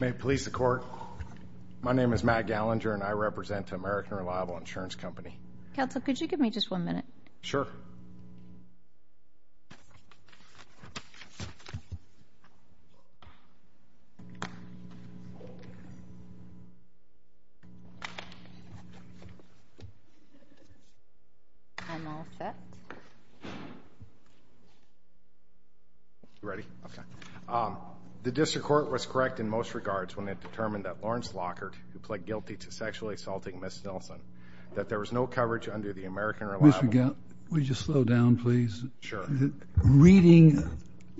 May it please the Court. My name is Matt Gallinger, and I represent American Reliable Insurance Company. Counsel, could you give me just one minute? Sure. I'm all set. You ready? Okay. The district court was correct in most regards when it determined that Lawrence Lockard, who pled guilty to sexually assaulting Ms. Nelson, that there was no coverage under the American Reliable Insurance Company. Mr. Gallinger, will you just slow down, please? Sure. Reading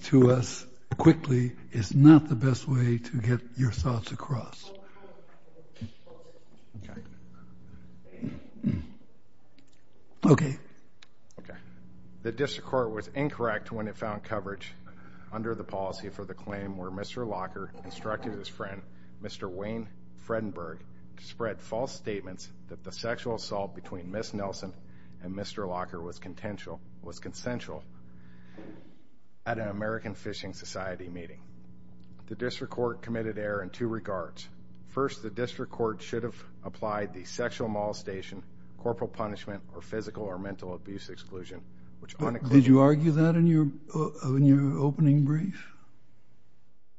to us quickly is not the best way to get your thoughts across. Okay. Okay. Okay. The district court was incorrect when it found coverage under the policy for the claim where Mr. Lockard instructed his friend, Mr. Wayne Fredenberg, to spread false statements that the sexual assault between Ms. Nelson and Mr. Lockard was consensual at an American Fishing Society meeting. The district court committed error in two regards. First, the district court should have applied the sexual molestation, corporal punishment, or physical or mental abuse exclusion, which unequivocally— Did you argue that in your opening brief?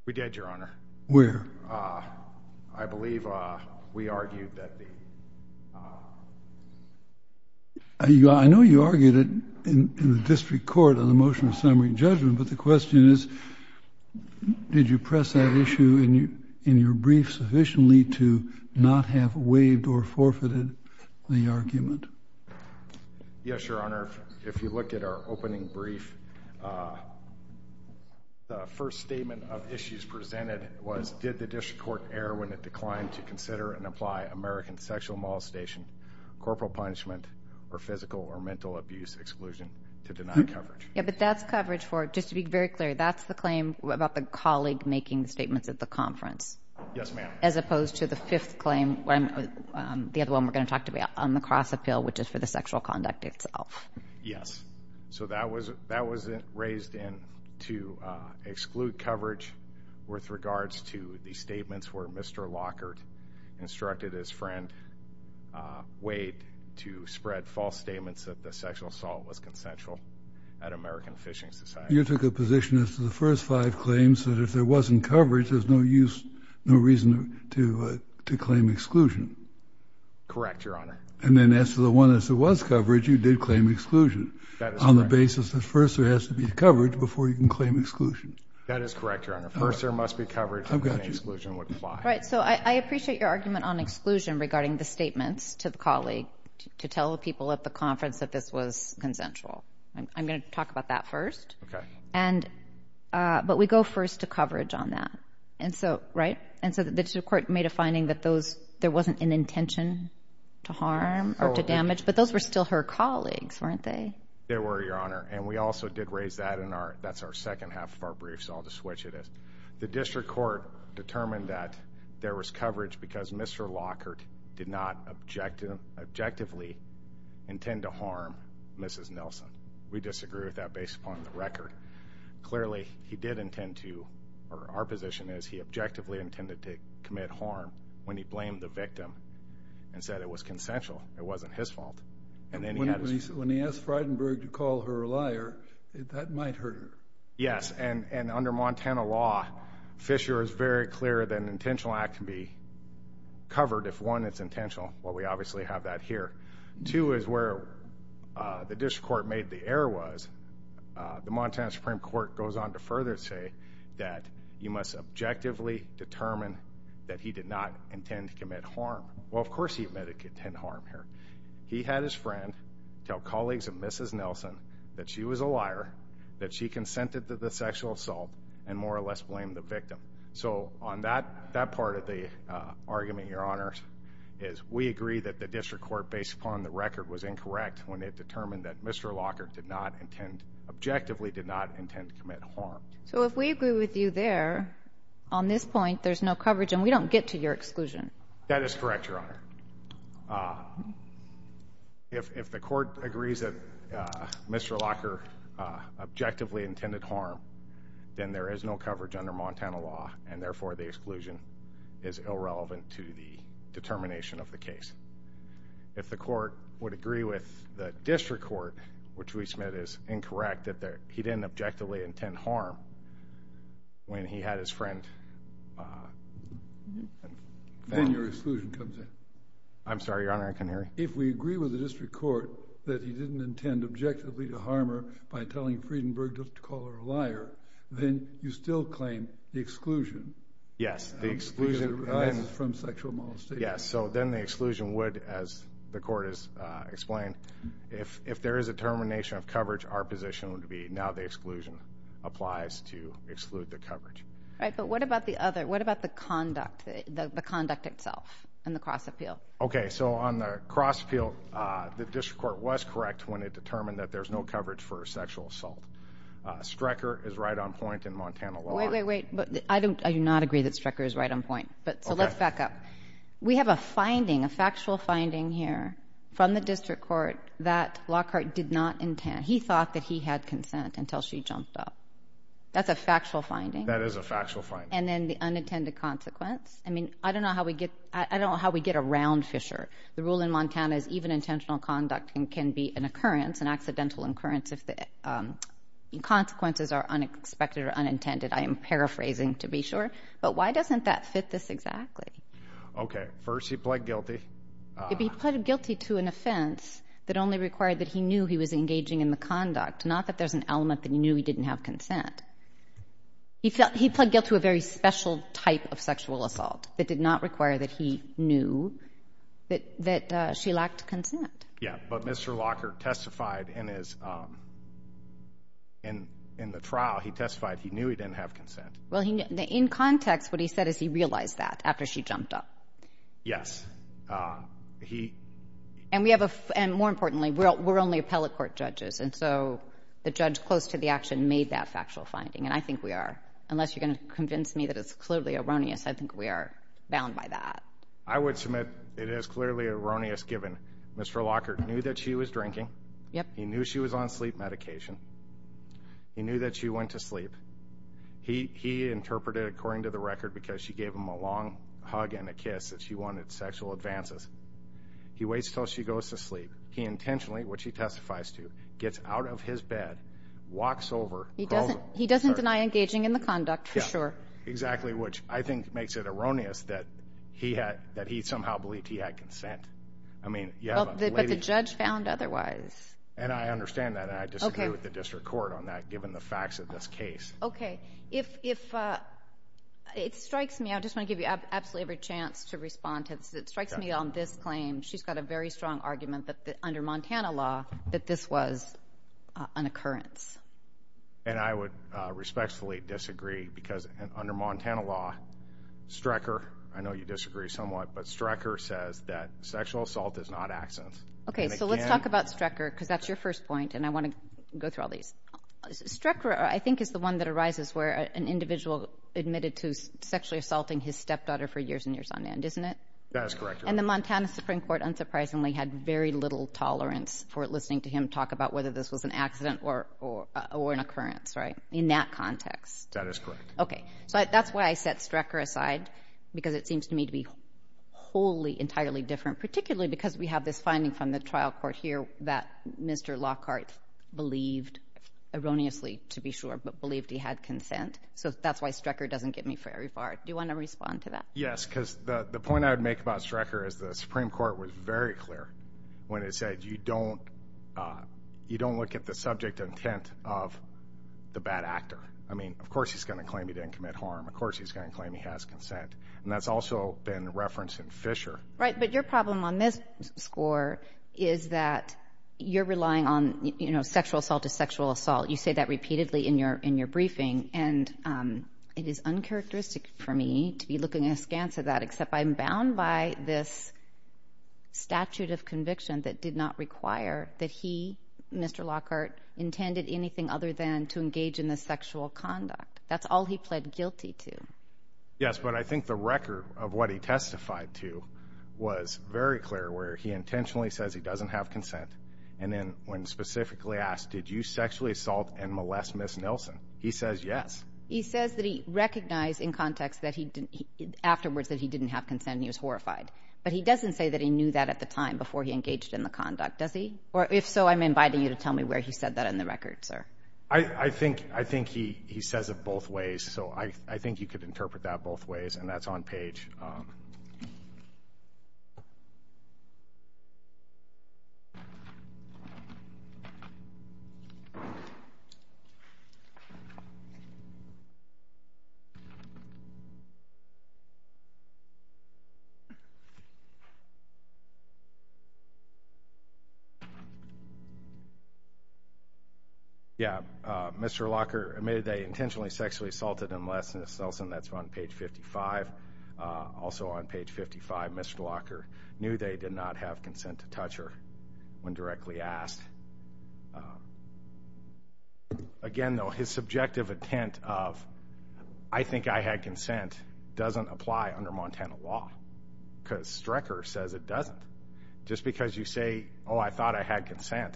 We did, Your Honor. Where? I believe we argued that the— I know you argued it in the district court on the motion of summary judgment, but the question is, did you press that issue in your brief sufficiently to not have waived or forfeited the argument? Yes, Your Honor. Your Honor, if you look at our opening brief, the first statement of issues presented was, did the district court err when it declined to consider and apply American sexual molestation, corporal punishment, or physical or mental abuse exclusion to deny coverage? Yeah, but that's coverage for—just to be very clear, that's the claim about the colleague making the statements at the conference? Yes, ma'am. As opposed to the fifth claim, the other one we're going to talk about, on the cross-appeal, which is for the sexual conduct itself. Yes. So that was raised in to exclude coverage with regards to the statements where Mr. Lockhart instructed his friend Wade to spread false statements that the sexual assault was consensual at American Fishing Society. You took a position as to the first five claims that if there wasn't coverage, there's no reason to claim exclusion. Correct, Your Honor. And then as to the one that was coverage, you did claim exclusion on the basis that first there has to be coverage before you can claim exclusion. That is correct, Your Honor. First there must be coverage. I've got you. Right, so I appreciate your argument on exclusion regarding the statements to the colleague to tell the people at the conference that this was consensual. I'm going to talk about that first. Okay. But we go first to coverage on that, right? And so the district court made a finding that there wasn't an intention to harm or to damage, but those were still her colleagues, weren't they? They were, Your Honor. And we also did raise that, and that's our second half of our brief, so I'll just switch it. The district court determined that there was coverage because Mr. Lockhart did not objectively intend to harm Mrs. Nelson. We disagree with that based upon the record. Clearly, he did intend to, or our position is he objectively intended to commit harm when he blamed the victim and said it was consensual, it wasn't his fault. When he asked Frydenberg to call her a liar, that might hurt her. Yes, and under Montana law, Fisher is very clear that an intentional act can be covered if, one, it's intentional. Well, we obviously have that here. Two is where the district court made the error was, the Montana Supreme Court goes on to further say that you must objectively determine that he did not intend to commit harm. Well, of course he admitted to committing harm here. He had his friend tell colleagues of Mrs. Nelson that she was a liar, that she consented to the sexual assault, and more or less blamed the victim. So on that part of the argument, Your Honor, is we agree that the district court, based upon the record, was incorrect when it determined that Mr. Lockhart did not intend, objectively did not intend to commit harm. So if we agree with you there, on this point, there's no coverage and we don't get to your exclusion. That is correct, Your Honor. If the court agrees that Mr. Lockhart objectively intended harm, then there is no coverage under Montana law, and therefore the exclusion is irrelevant to the determination of the case. If the court would agree with the district court, which we submit is incorrect, that he didn't objectively intend harm when he had his friend... Then your exclusion comes in. I'm sorry, Your Honor, I didn't hear you. If we agree with the district court that he didn't intend objectively to harm her by telling Friedenberg to call her a liar, then you still claim the exclusion. Yes, the exclusion... The exclusion arises from sexual molestation. Yes, so then the exclusion would, as the court has explained, if there is a determination of coverage, our position would be now the exclusion applies to exclude the coverage. Right, but what about the other, what about the conduct, the conduct itself and the cross-appeal? Okay, so on the cross-appeal, the district court was correct when it determined that there's no coverage for a sexual assault. Strecker is right on point in Montana law. Wait, wait, wait, I do not agree that Strecker is right on point. So let's back up. We have a finding, a factual finding here from the district court that Lockhart did not intend, he thought that he had consent until she jumped up. That's a factual finding? That is a factual finding. And then the unintended consequence? I mean, I don't know how we get around Fisher. The rule in Montana is even intentional conduct can be an occurrence, an accidental occurrence if the consequences are unexpected or unintended. I am paraphrasing to be sure, but why doesn't that fit this exactly? Okay, first he pled guilty. He pled guilty to an offense that only required that he knew he was engaging in the conduct, not that there's an element that he knew he didn't have consent. He pled guilty to a very special type of sexual assault that did not require that he knew that she lacked consent. Yeah, but Mr. Lockhart testified in the trial, he testified he knew he didn't have consent. Well, in context, what he said is he realized that after she jumped up. Yes. And more importantly, we're only appellate court judges, and so the judge close to the action made that factual finding, and I think we are. Unless you're going to convince me that it's clearly erroneous, I think we are bound by that. I would submit it is clearly erroneous given Mr. Lockhart knew that she was drinking. Yep. He knew she was on sleep medication. He knew that she went to sleep. He interpreted, according to the record, because she gave him a long hug and a kiss that she wanted sexual advances. He waits until she goes to sleep. He intentionally, which he testifies to, gets out of his bed, walks over. He doesn't deny engaging in the conduct, for sure. Exactly, which I think makes it erroneous that he somehow believed he had consent. I mean, you have a lady. But the judge found otherwise. And I understand that, and I disagree with the district court on that, given the facts of this case. Okay. If it strikes me, I just want to give you absolutely every chance to respond to this. It strikes me on this claim, she's got a very strong argument that under Montana law, that this was an occurrence. And I would respectfully disagree, because under Montana law, Strecker, I know you disagree somewhat, but Strecker says that sexual assault is not accident. Okay, so let's talk about Strecker, because that's your first point, and I want to go through all these. Strecker, I think, is the one that arises where an individual admitted to sexually assaulting his stepdaughter for years and years on end, isn't it? That is correct. And the Montana Supreme Court, unsurprisingly, had very little tolerance for listening to him talk about whether this was an accident or an occurrence, right? In that context. That is correct. Okay. So that's why I set Strecker aside, because it seems to me to be wholly, entirely different, particularly because we have this finding from the trial court here that Mr. Lockhart believed, erroneously to be sure, but believed he had consent. So that's why Strecker doesn't get me very far. Do you want to respond to that? Yes, because the point I would make about Strecker is the Supreme Court was very clear when it said you don't look at the subject intent of the bad actor. I mean, of course he's going to claim he didn't commit harm. Of course he's going to claim he has consent. And that's also been referenced in Fisher. Right, but your problem on this score is that you're relying on, you know, sexual assault is sexual assault. You say that repeatedly in your briefing, and it is uncharacteristic for me to be looking askance at that, except I'm bound by this statute of conviction that did not require that he, Mr. Lockhart, intended anything other than to engage in the sexual conduct. That's all he pled guilty to. Yes, but I think the record of what he testified to was very clear, where he intentionally says he doesn't have consent, and then when specifically asked, did you sexually assault and molest Ms. Nelson, he says yes. He says that he recognized in context afterwards that he didn't have consent and he was horrified, but he doesn't say that he knew that at the time before he engaged in the conduct, does he? Or if so, I'm inviting you to tell me where he said that in the record, sir. I think he says it both ways, so I think you could interpret that both ways, and that's on page. Thank you. Yeah, Mr. Lockhart admitted they intentionally sexually assaulted and molested Ms. Nelson. That's on page 55. Also on page 55, Mr. Lockhart knew they did not have consent to touch her when directly asked. Again, though, his subjective intent of I think I had consent doesn't apply under Montana law because Strecker says it doesn't. Just because you say, oh, I thought I had consent,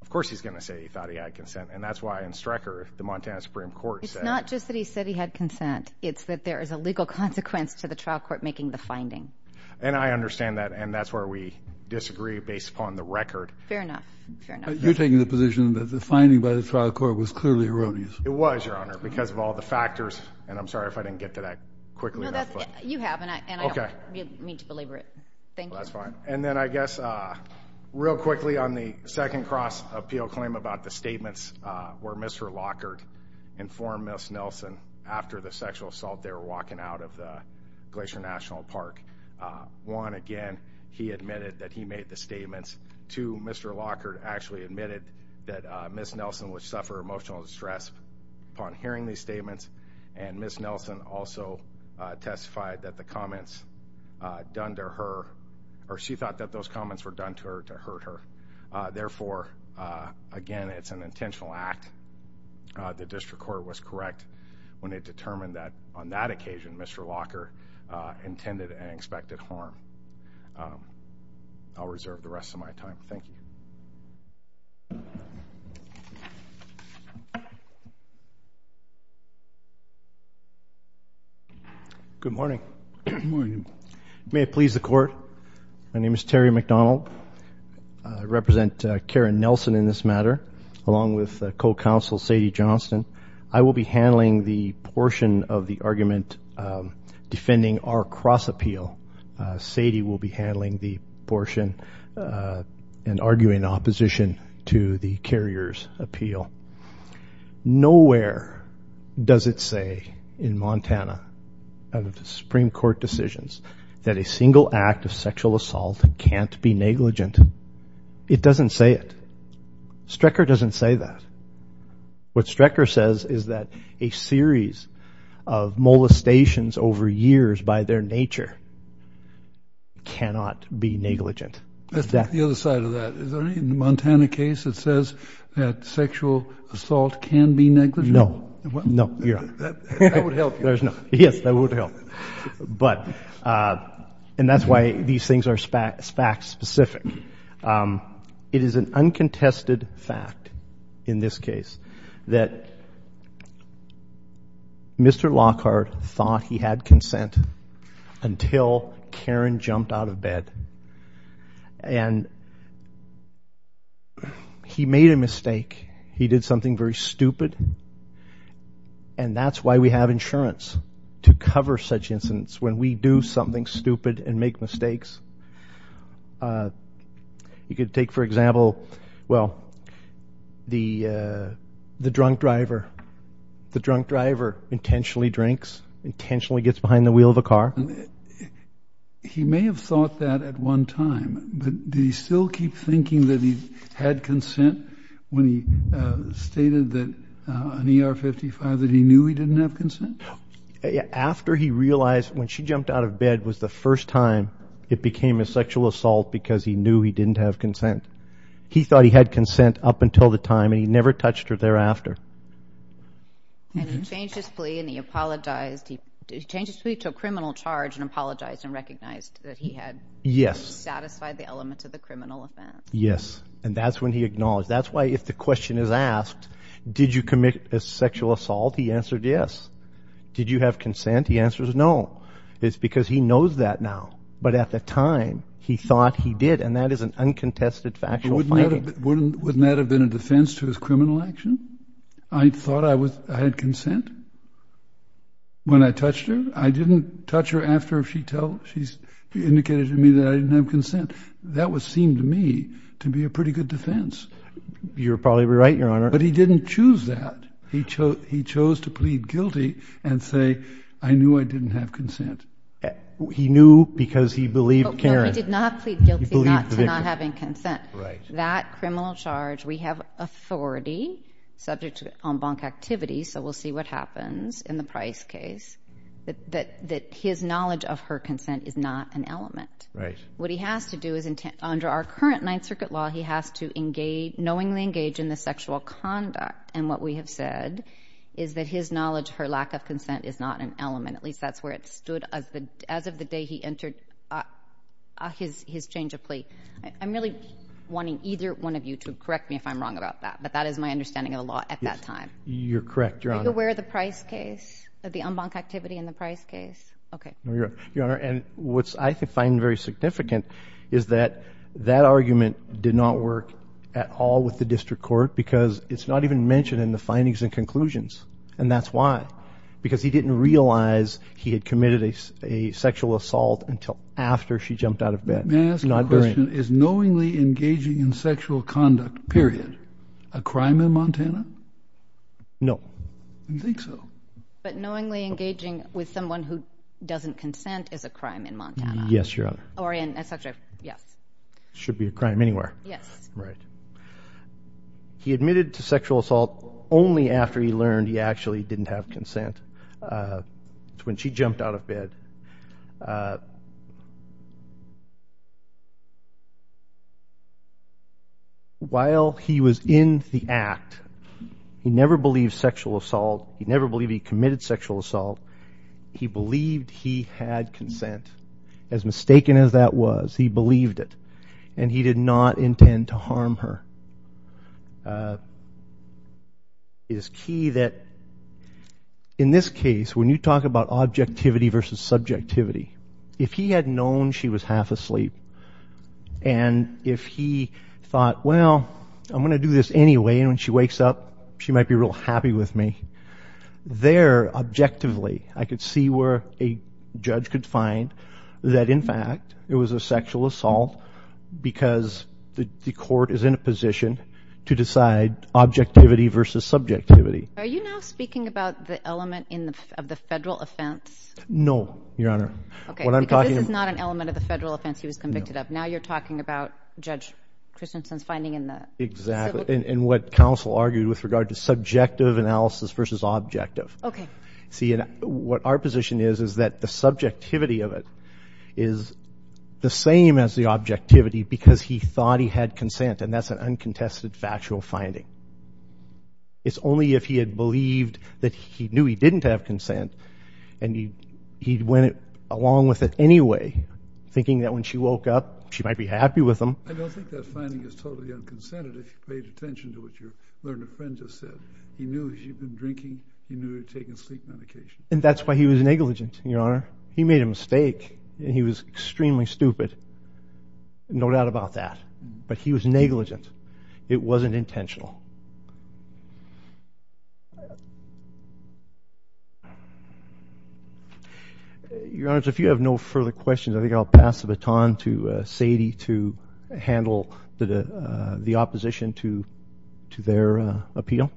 of course he's going to say he thought he had consent, and that's why in Strecker the Montana Supreme Court said. It's not just that he said he had consent. It's that there is a legal consequence to the trial court making the finding. And I understand that, and that's where we disagree based upon the record. Fair enough. You're taking the position that the finding by the trial court was clearly erroneous. It was, Your Honor, because of all the factors, and I'm sorry if I didn't get to that quickly enough. You have, and I don't mean to belabor it. Thank you. That's fine. And then I guess real quickly on the second cross appeal claim about the statements where Mr. Lockhart informed Ms. Nelson after the sexual assault they were walking out of the Glacier National Park. One, again, he admitted that he made the statements. Two, Mr. Lockhart actually admitted that Ms. Nelson would suffer emotional distress upon hearing these statements, and Ms. Nelson also testified that the comments done to her, or she thought that those comments were done to her to hurt her. Therefore, again, it's an intentional act. The district court was correct when it determined that on that occasion Mr. Lockhart intended and expected harm. I'll reserve the rest of my time. Thank you. Good morning. Good morning. May it please the Court, my name is Terry McDonald. I represent Karen Nelson in this matter, along with co-counsel Sadie Johnston. I will be handling the portion of the argument defending our cross appeal. Sadie will be handling the portion and arguing opposition to the carrier's appeal. Nowhere does it say in Montana, out of the Supreme Court decisions, that a single act of sexual assault can't be negligent. It doesn't say it. Strecker doesn't say that. What Strecker says is that a series of molestations over years by their nature cannot be negligent. The other side of that. Is there any Montana case that says that sexual assault can be negligent? No. No. That would help you. Yes, that would help. And that's why these things are fact specific. It is an uncontested fact in this case that Mr. Lockhart thought he had consent until Karen jumped out of bed. And he made a mistake. He did something very stupid. And that's why we have insurance to cover such incidents when we do something stupid and make mistakes. You could take, for example, well, the drunk driver. The drunk driver intentionally drinks, intentionally gets behind the wheel of a car. He may have thought that at one time. But did he still keep thinking that he had consent when he stated that on ER 55 that he knew he didn't have consent? After he realized when she jumped out of bed was the first time it became a sexual assault because he knew he didn't have consent. He thought he had consent up until the time, and he never touched her thereafter. And he changed his plea and he apologized. He changed his plea to a criminal charge and apologized and recognized that he had satisfied the elements of the criminal offense. Yes. And that's when he acknowledged. That's why if the question is asked, did you commit a sexual assault, he answered yes. Did you have consent? He answers no. It's because he knows that now. But at the time, he thought he did. And that is an uncontested factual finding. Wouldn't that have been a defense to his criminal action? I thought I had consent when I touched her. I didn't touch her after she indicated to me that I didn't have consent. That seemed to me to be a pretty good defense. You're probably right, Your Honor. But he didn't choose that. He chose to plead guilty and say, I knew I didn't have consent. He knew because he believed Karen. No, he did not plead guilty to not having consent. Right. That criminal charge, we have authority, subject to en banc activity, so we'll see what happens in the Price case, that his knowledge of her consent is not an element. Right. What he has to do is, under our current Ninth Circuit law, he has to knowingly engage in the sexual conduct. And what we have said is that his knowledge, her lack of consent, is not an element. At least that's where it stood as of the day he entered his change of plea. I'm really wanting either one of you to correct me if I'm wrong about that. But that is my understanding of the law at that time. You're correct, Your Honor. Are you aware of the Price case, of the en banc activity in the Price case? Okay. Your Honor, and what I find very significant is that that argument did not work at all with the district court because it's not even mentioned in the findings and conclusions. And that's why. Because he didn't realize he had committed a sexual assault until after she jumped out of bed. May I ask a question? Is knowingly engaging in sexual conduct, period, a crime in Montana? No. You think so? But knowingly engaging with someone who doesn't consent is a crime in Montana. Yes, Your Honor. Or in a subject, yes. Should be a crime anywhere. Yes. Right. He admitted to sexual assault only after he learned he actually didn't have consent. That's when she jumped out of bed. While he was in the act, he never believed sexual assault. He never believed he committed sexual assault. He believed he had consent. As mistaken as that was, he believed it. And he did not intend to harm her. It is key that in this case, when you talk about objectivity versus subjectivity, if he had known she was half asleep and if he thought, well, I'm going to do this anyway and when she wakes up she might be real happy with me, there, objectively, I could see where a judge could find that, in fact, it was a sexual assault because the court is in a position to decide objectivity versus subjectivity. Are you now speaking about the element of the federal offense? No, Your Honor. Okay. Because this is not an element of the federal offense he was convicted of. Now you're talking about Judge Christensen's finding in the civil case. Exactly. And what counsel argued with regard to subjective analysis versus objective. Okay. See, what our position is is that the subjectivity of it is the same as the objectivity because he thought he had consent, and that's an uncontested factual finding. It's only if he had believed that he knew he didn't have consent and he went along with it anyway, thinking that when she woke up she might be happy with him. I don't think that finding is totally unconsented if you paid attention to what your learned friend just said. He knew she'd been drinking, he knew she'd taken sleep medication. And that's why he was negligent, Your Honor. He made a mistake, and he was extremely stupid. No doubt about that. But he was negligent. It wasn't intentional. Your Honor, if you have no further questions, I think I'll pass the baton to Sadie to handle the opposition to their appeal.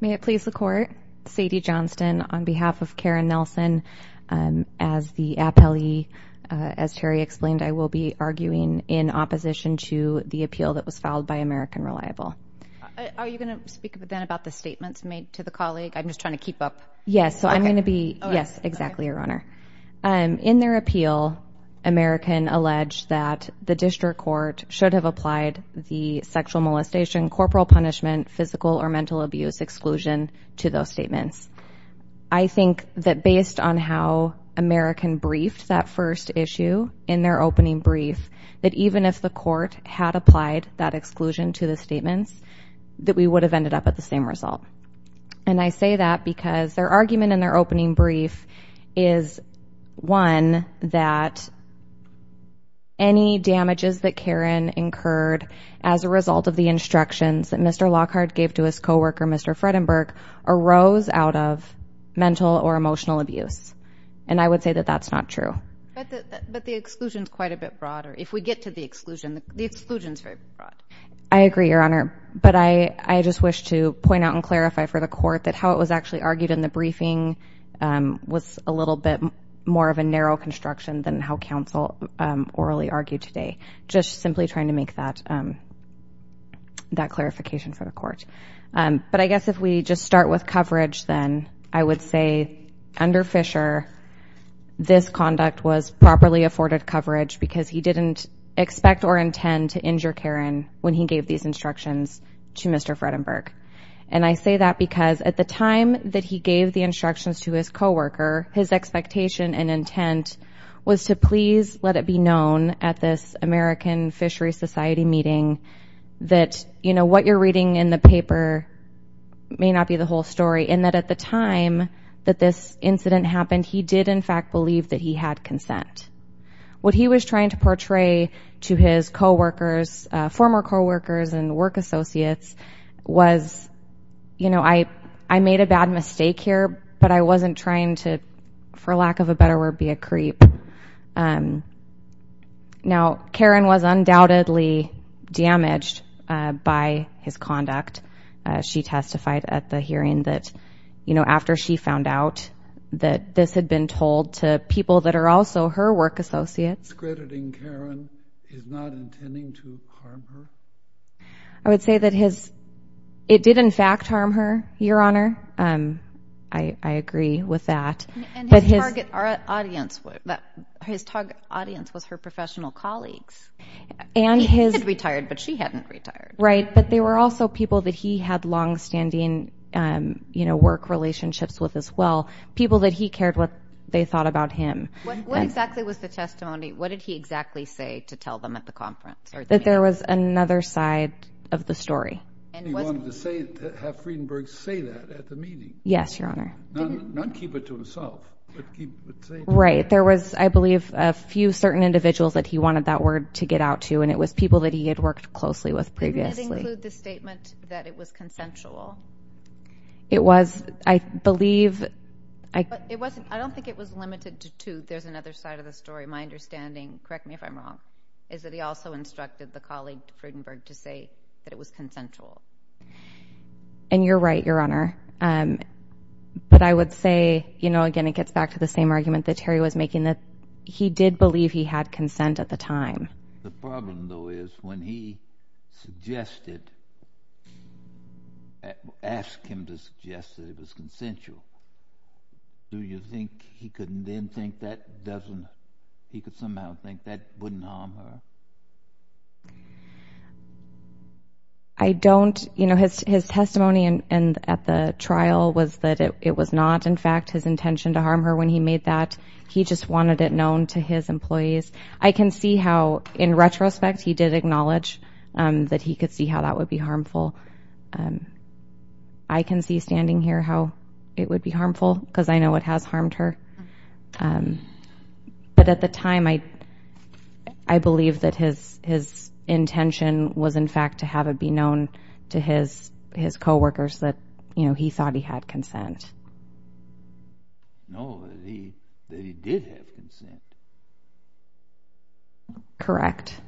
May it please the Court, Sadie Johnston on behalf of Karen Nelson. As the appellee, as Terry explained, I will be arguing in opposition to the appeal that was filed by American Reliable. Are you going to speak then about the statements made to the colleague? I'm just trying to keep up. Yes, so I'm going to be, yes, exactly, Your Honor. In their appeal, American alleged that the district court should have applied the sexual molestation, corporal punishment, physical or mental abuse exclusion to those statements. I think that based on how American briefed that first issue in their opening brief, that even if the court had applied that exclusion to the statements, that we would have ended up at the same result. And I say that because their argument in their opening brief is, one, that any damages that Karen incurred as a result of the instructions that Mr. Lockhart gave to his co-worker, Mr. Fredenberg, arose out of mental or emotional abuse. And I would say that that's not true. But the exclusion is quite a bit broader. If we get to the exclusion, the exclusion is very broad. I agree, Your Honor. But I just wish to point out and clarify for the court that how it was actually argued in the briefing was a little bit more of a narrow construction than how counsel orally argued today, just simply trying to make that clarification for the court. But I guess if we just start with coverage then, I would say under Fisher, this conduct was properly afforded coverage because he didn't expect or intend to injure Karen when he gave these instructions to Mr. Fredenberg. And I say that because at the time that he gave the instructions to his co-worker, his expectation and intent was to please let it be known at this American Fisheries Society meeting that, you know, what you're reading in the paper may not be the whole story, and that at the time that this incident happened, he did, in fact, believe that he had consent. What he was trying to portray to his co-workers, former co-workers and work associates, was, you know, I made a bad mistake here, but I wasn't trying to, for lack of a better word, be a creep. Now, Karen was undoubtedly damaged by his conduct. She testified at the hearing that, you know, after she found out that this had been told to people that are also her work associates. Discrediting Karen is not intending to harm her? I would say that it did, in fact, harm her, Your Honor. I agree with that. And his target audience was her professional colleagues. He had retired, but she hadn't retired. Right, but they were also people that he had longstanding, you know, work relationships with as well, people that he cared what they thought about him. What exactly was the testimony? What did he exactly say to tell them at the conference? That there was another side of the story. He wanted to have Friedenberg say that at the meeting. Yes, Your Honor. Not keep it to himself, but keep it safe. Right. There was, I believe, a few certain individuals that he wanted that word to get out to, and it was people that he had worked closely with previously. Didn't it include the statement that it was consensual? It was, I believe. I don't think it was limited to there's another side of the story. My understanding, correct me if I'm wrong, is that he also instructed the colleague to Friedenberg to say that it was consensual. And you're right, Your Honor. But I would say, you know, again, it gets back to the same argument that Terry was making, that he did believe he had consent at the time. The problem, though, is when he suggested, asked him to suggest that it was consensual, do you think he could then think that doesn't, he could somehow think that wouldn't harm her? I don't, you know, his testimony at the trial was that it was not, in fact, his intention to harm her when he made that. He just wanted it known to his employees. I can see how, in retrospect, he did acknowledge that he could see how that would be harmful. I can see standing here how it would be harmful, because I know it has harmed her. But at the time, I believe that his intention was, in fact, to have it be known to his co-workers that, you know, he thought he had consent. No, that he did have consent. Correct.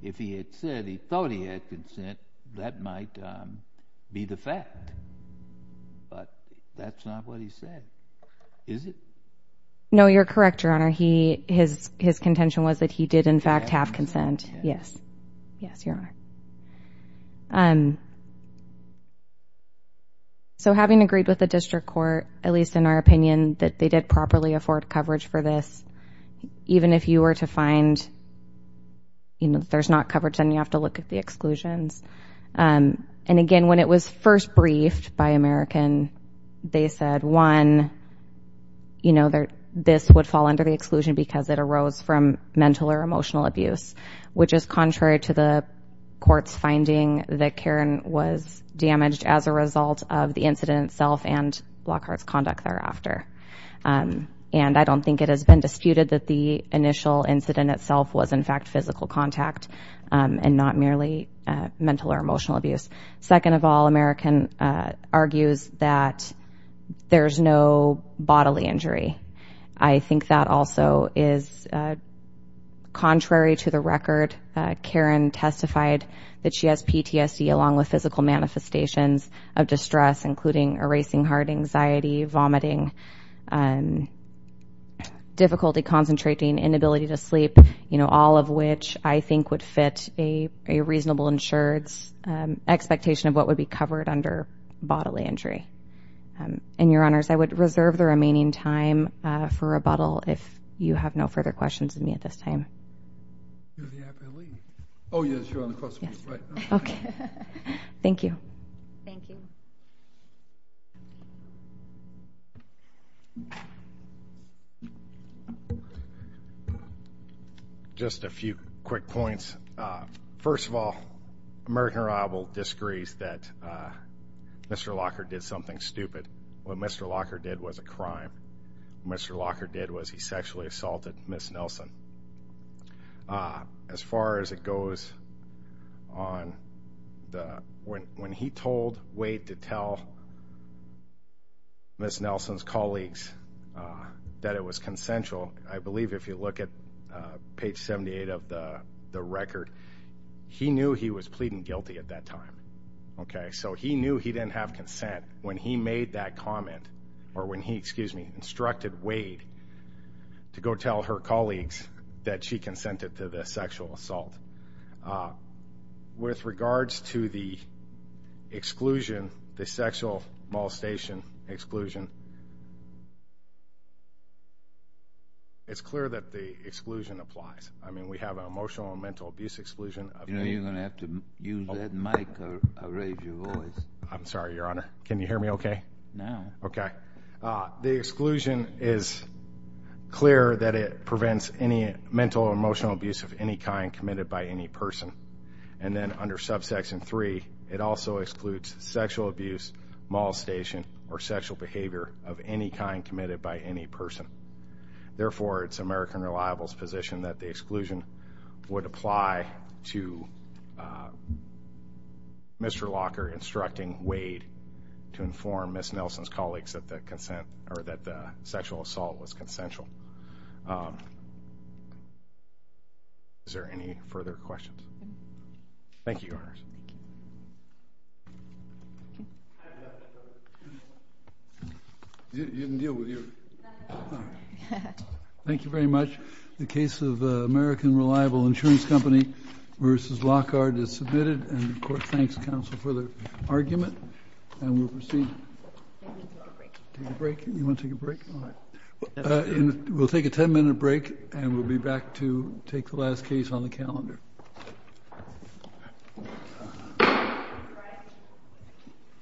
If he had said he thought he had consent, that might be the fact. But that's not what he said, is it? No, you're correct, Your Honor. His contention was that he did, in fact, have consent. Yes. Yes, Your Honor. So having agreed with the district court, at least in our opinion, that they did properly afford coverage for this, even if you were to find, you know, there's not coverage, then you have to look at the exclusions. And again, when it was first briefed by American, they said, one, you know, this would fall under the exclusion because it arose from mental or emotional abuse, which is contrary to the court's finding that Karen was damaged as a result of the incident itself and Lockhart's conduct thereafter. And I don't think it has been disputed that the initial incident itself was, in fact, physical contact and not merely mental or emotional abuse. Second of all, American argues that there's no bodily injury. I think that also is contrary to the record. Karen testified that she has PTSD, along with physical manifestations of distress, including erasing heart anxiety, vomiting, difficulty concentrating, inability to sleep, you know, all of which I think would fit a reasonable insured's expectation of what would be covered under bodily injury. And, Your Honors, I would reserve the remaining time for rebuttal if you have no further questions of me at this time. Oh, yes, you're on the question. Okay. Thank you. Thank you. Just a few quick points. First of all, American rival disagrees that Mr. Lockhart did something stupid. What Mr. Lockhart did was a crime. What Mr. Lockhart did was he sexually assaulted Ms. Nelson. As far as it goes on, when he told Wade to tell Ms. Nelson's colleagues that it was consensual, I believe if you look at page 78 of the record, he knew he was pleading guilty at that time. So he knew he didn't have consent when he made that comment or when he instructed Wade to go tell her colleagues that she consented to the sexual assault. With regards to the exclusion, the sexual molestation exclusion, it's clear that the exclusion applies. I mean, we have an emotional and mental abuse exclusion. You know, you're going to have to use that mic or raise your voice. I'm sorry, Your Honor. Can you hear me okay? No. Okay. The exclusion is clear that it prevents any mental or emotional abuse of any kind committed by any person. And then under subsection 3, it also excludes sexual abuse, molestation, or sexual behavior of any kind committed by any person. Therefore, it's American Reliable's position that the exclusion would apply to Mr. Lockhart instructing Wade to inform Ms. Nelson's colleagues that the sexual assault was consensual. Is there any further questions? Thank you, Your Honor. Thank you very much. The case of American Reliable Insurance Company v. Lockhart is submitted. And, of course, thanks, counsel, for the argument. And we'll proceed. Take a break. You want to take a break? We'll take a 10-minute break. And we'll be back to take the last case on the calendar.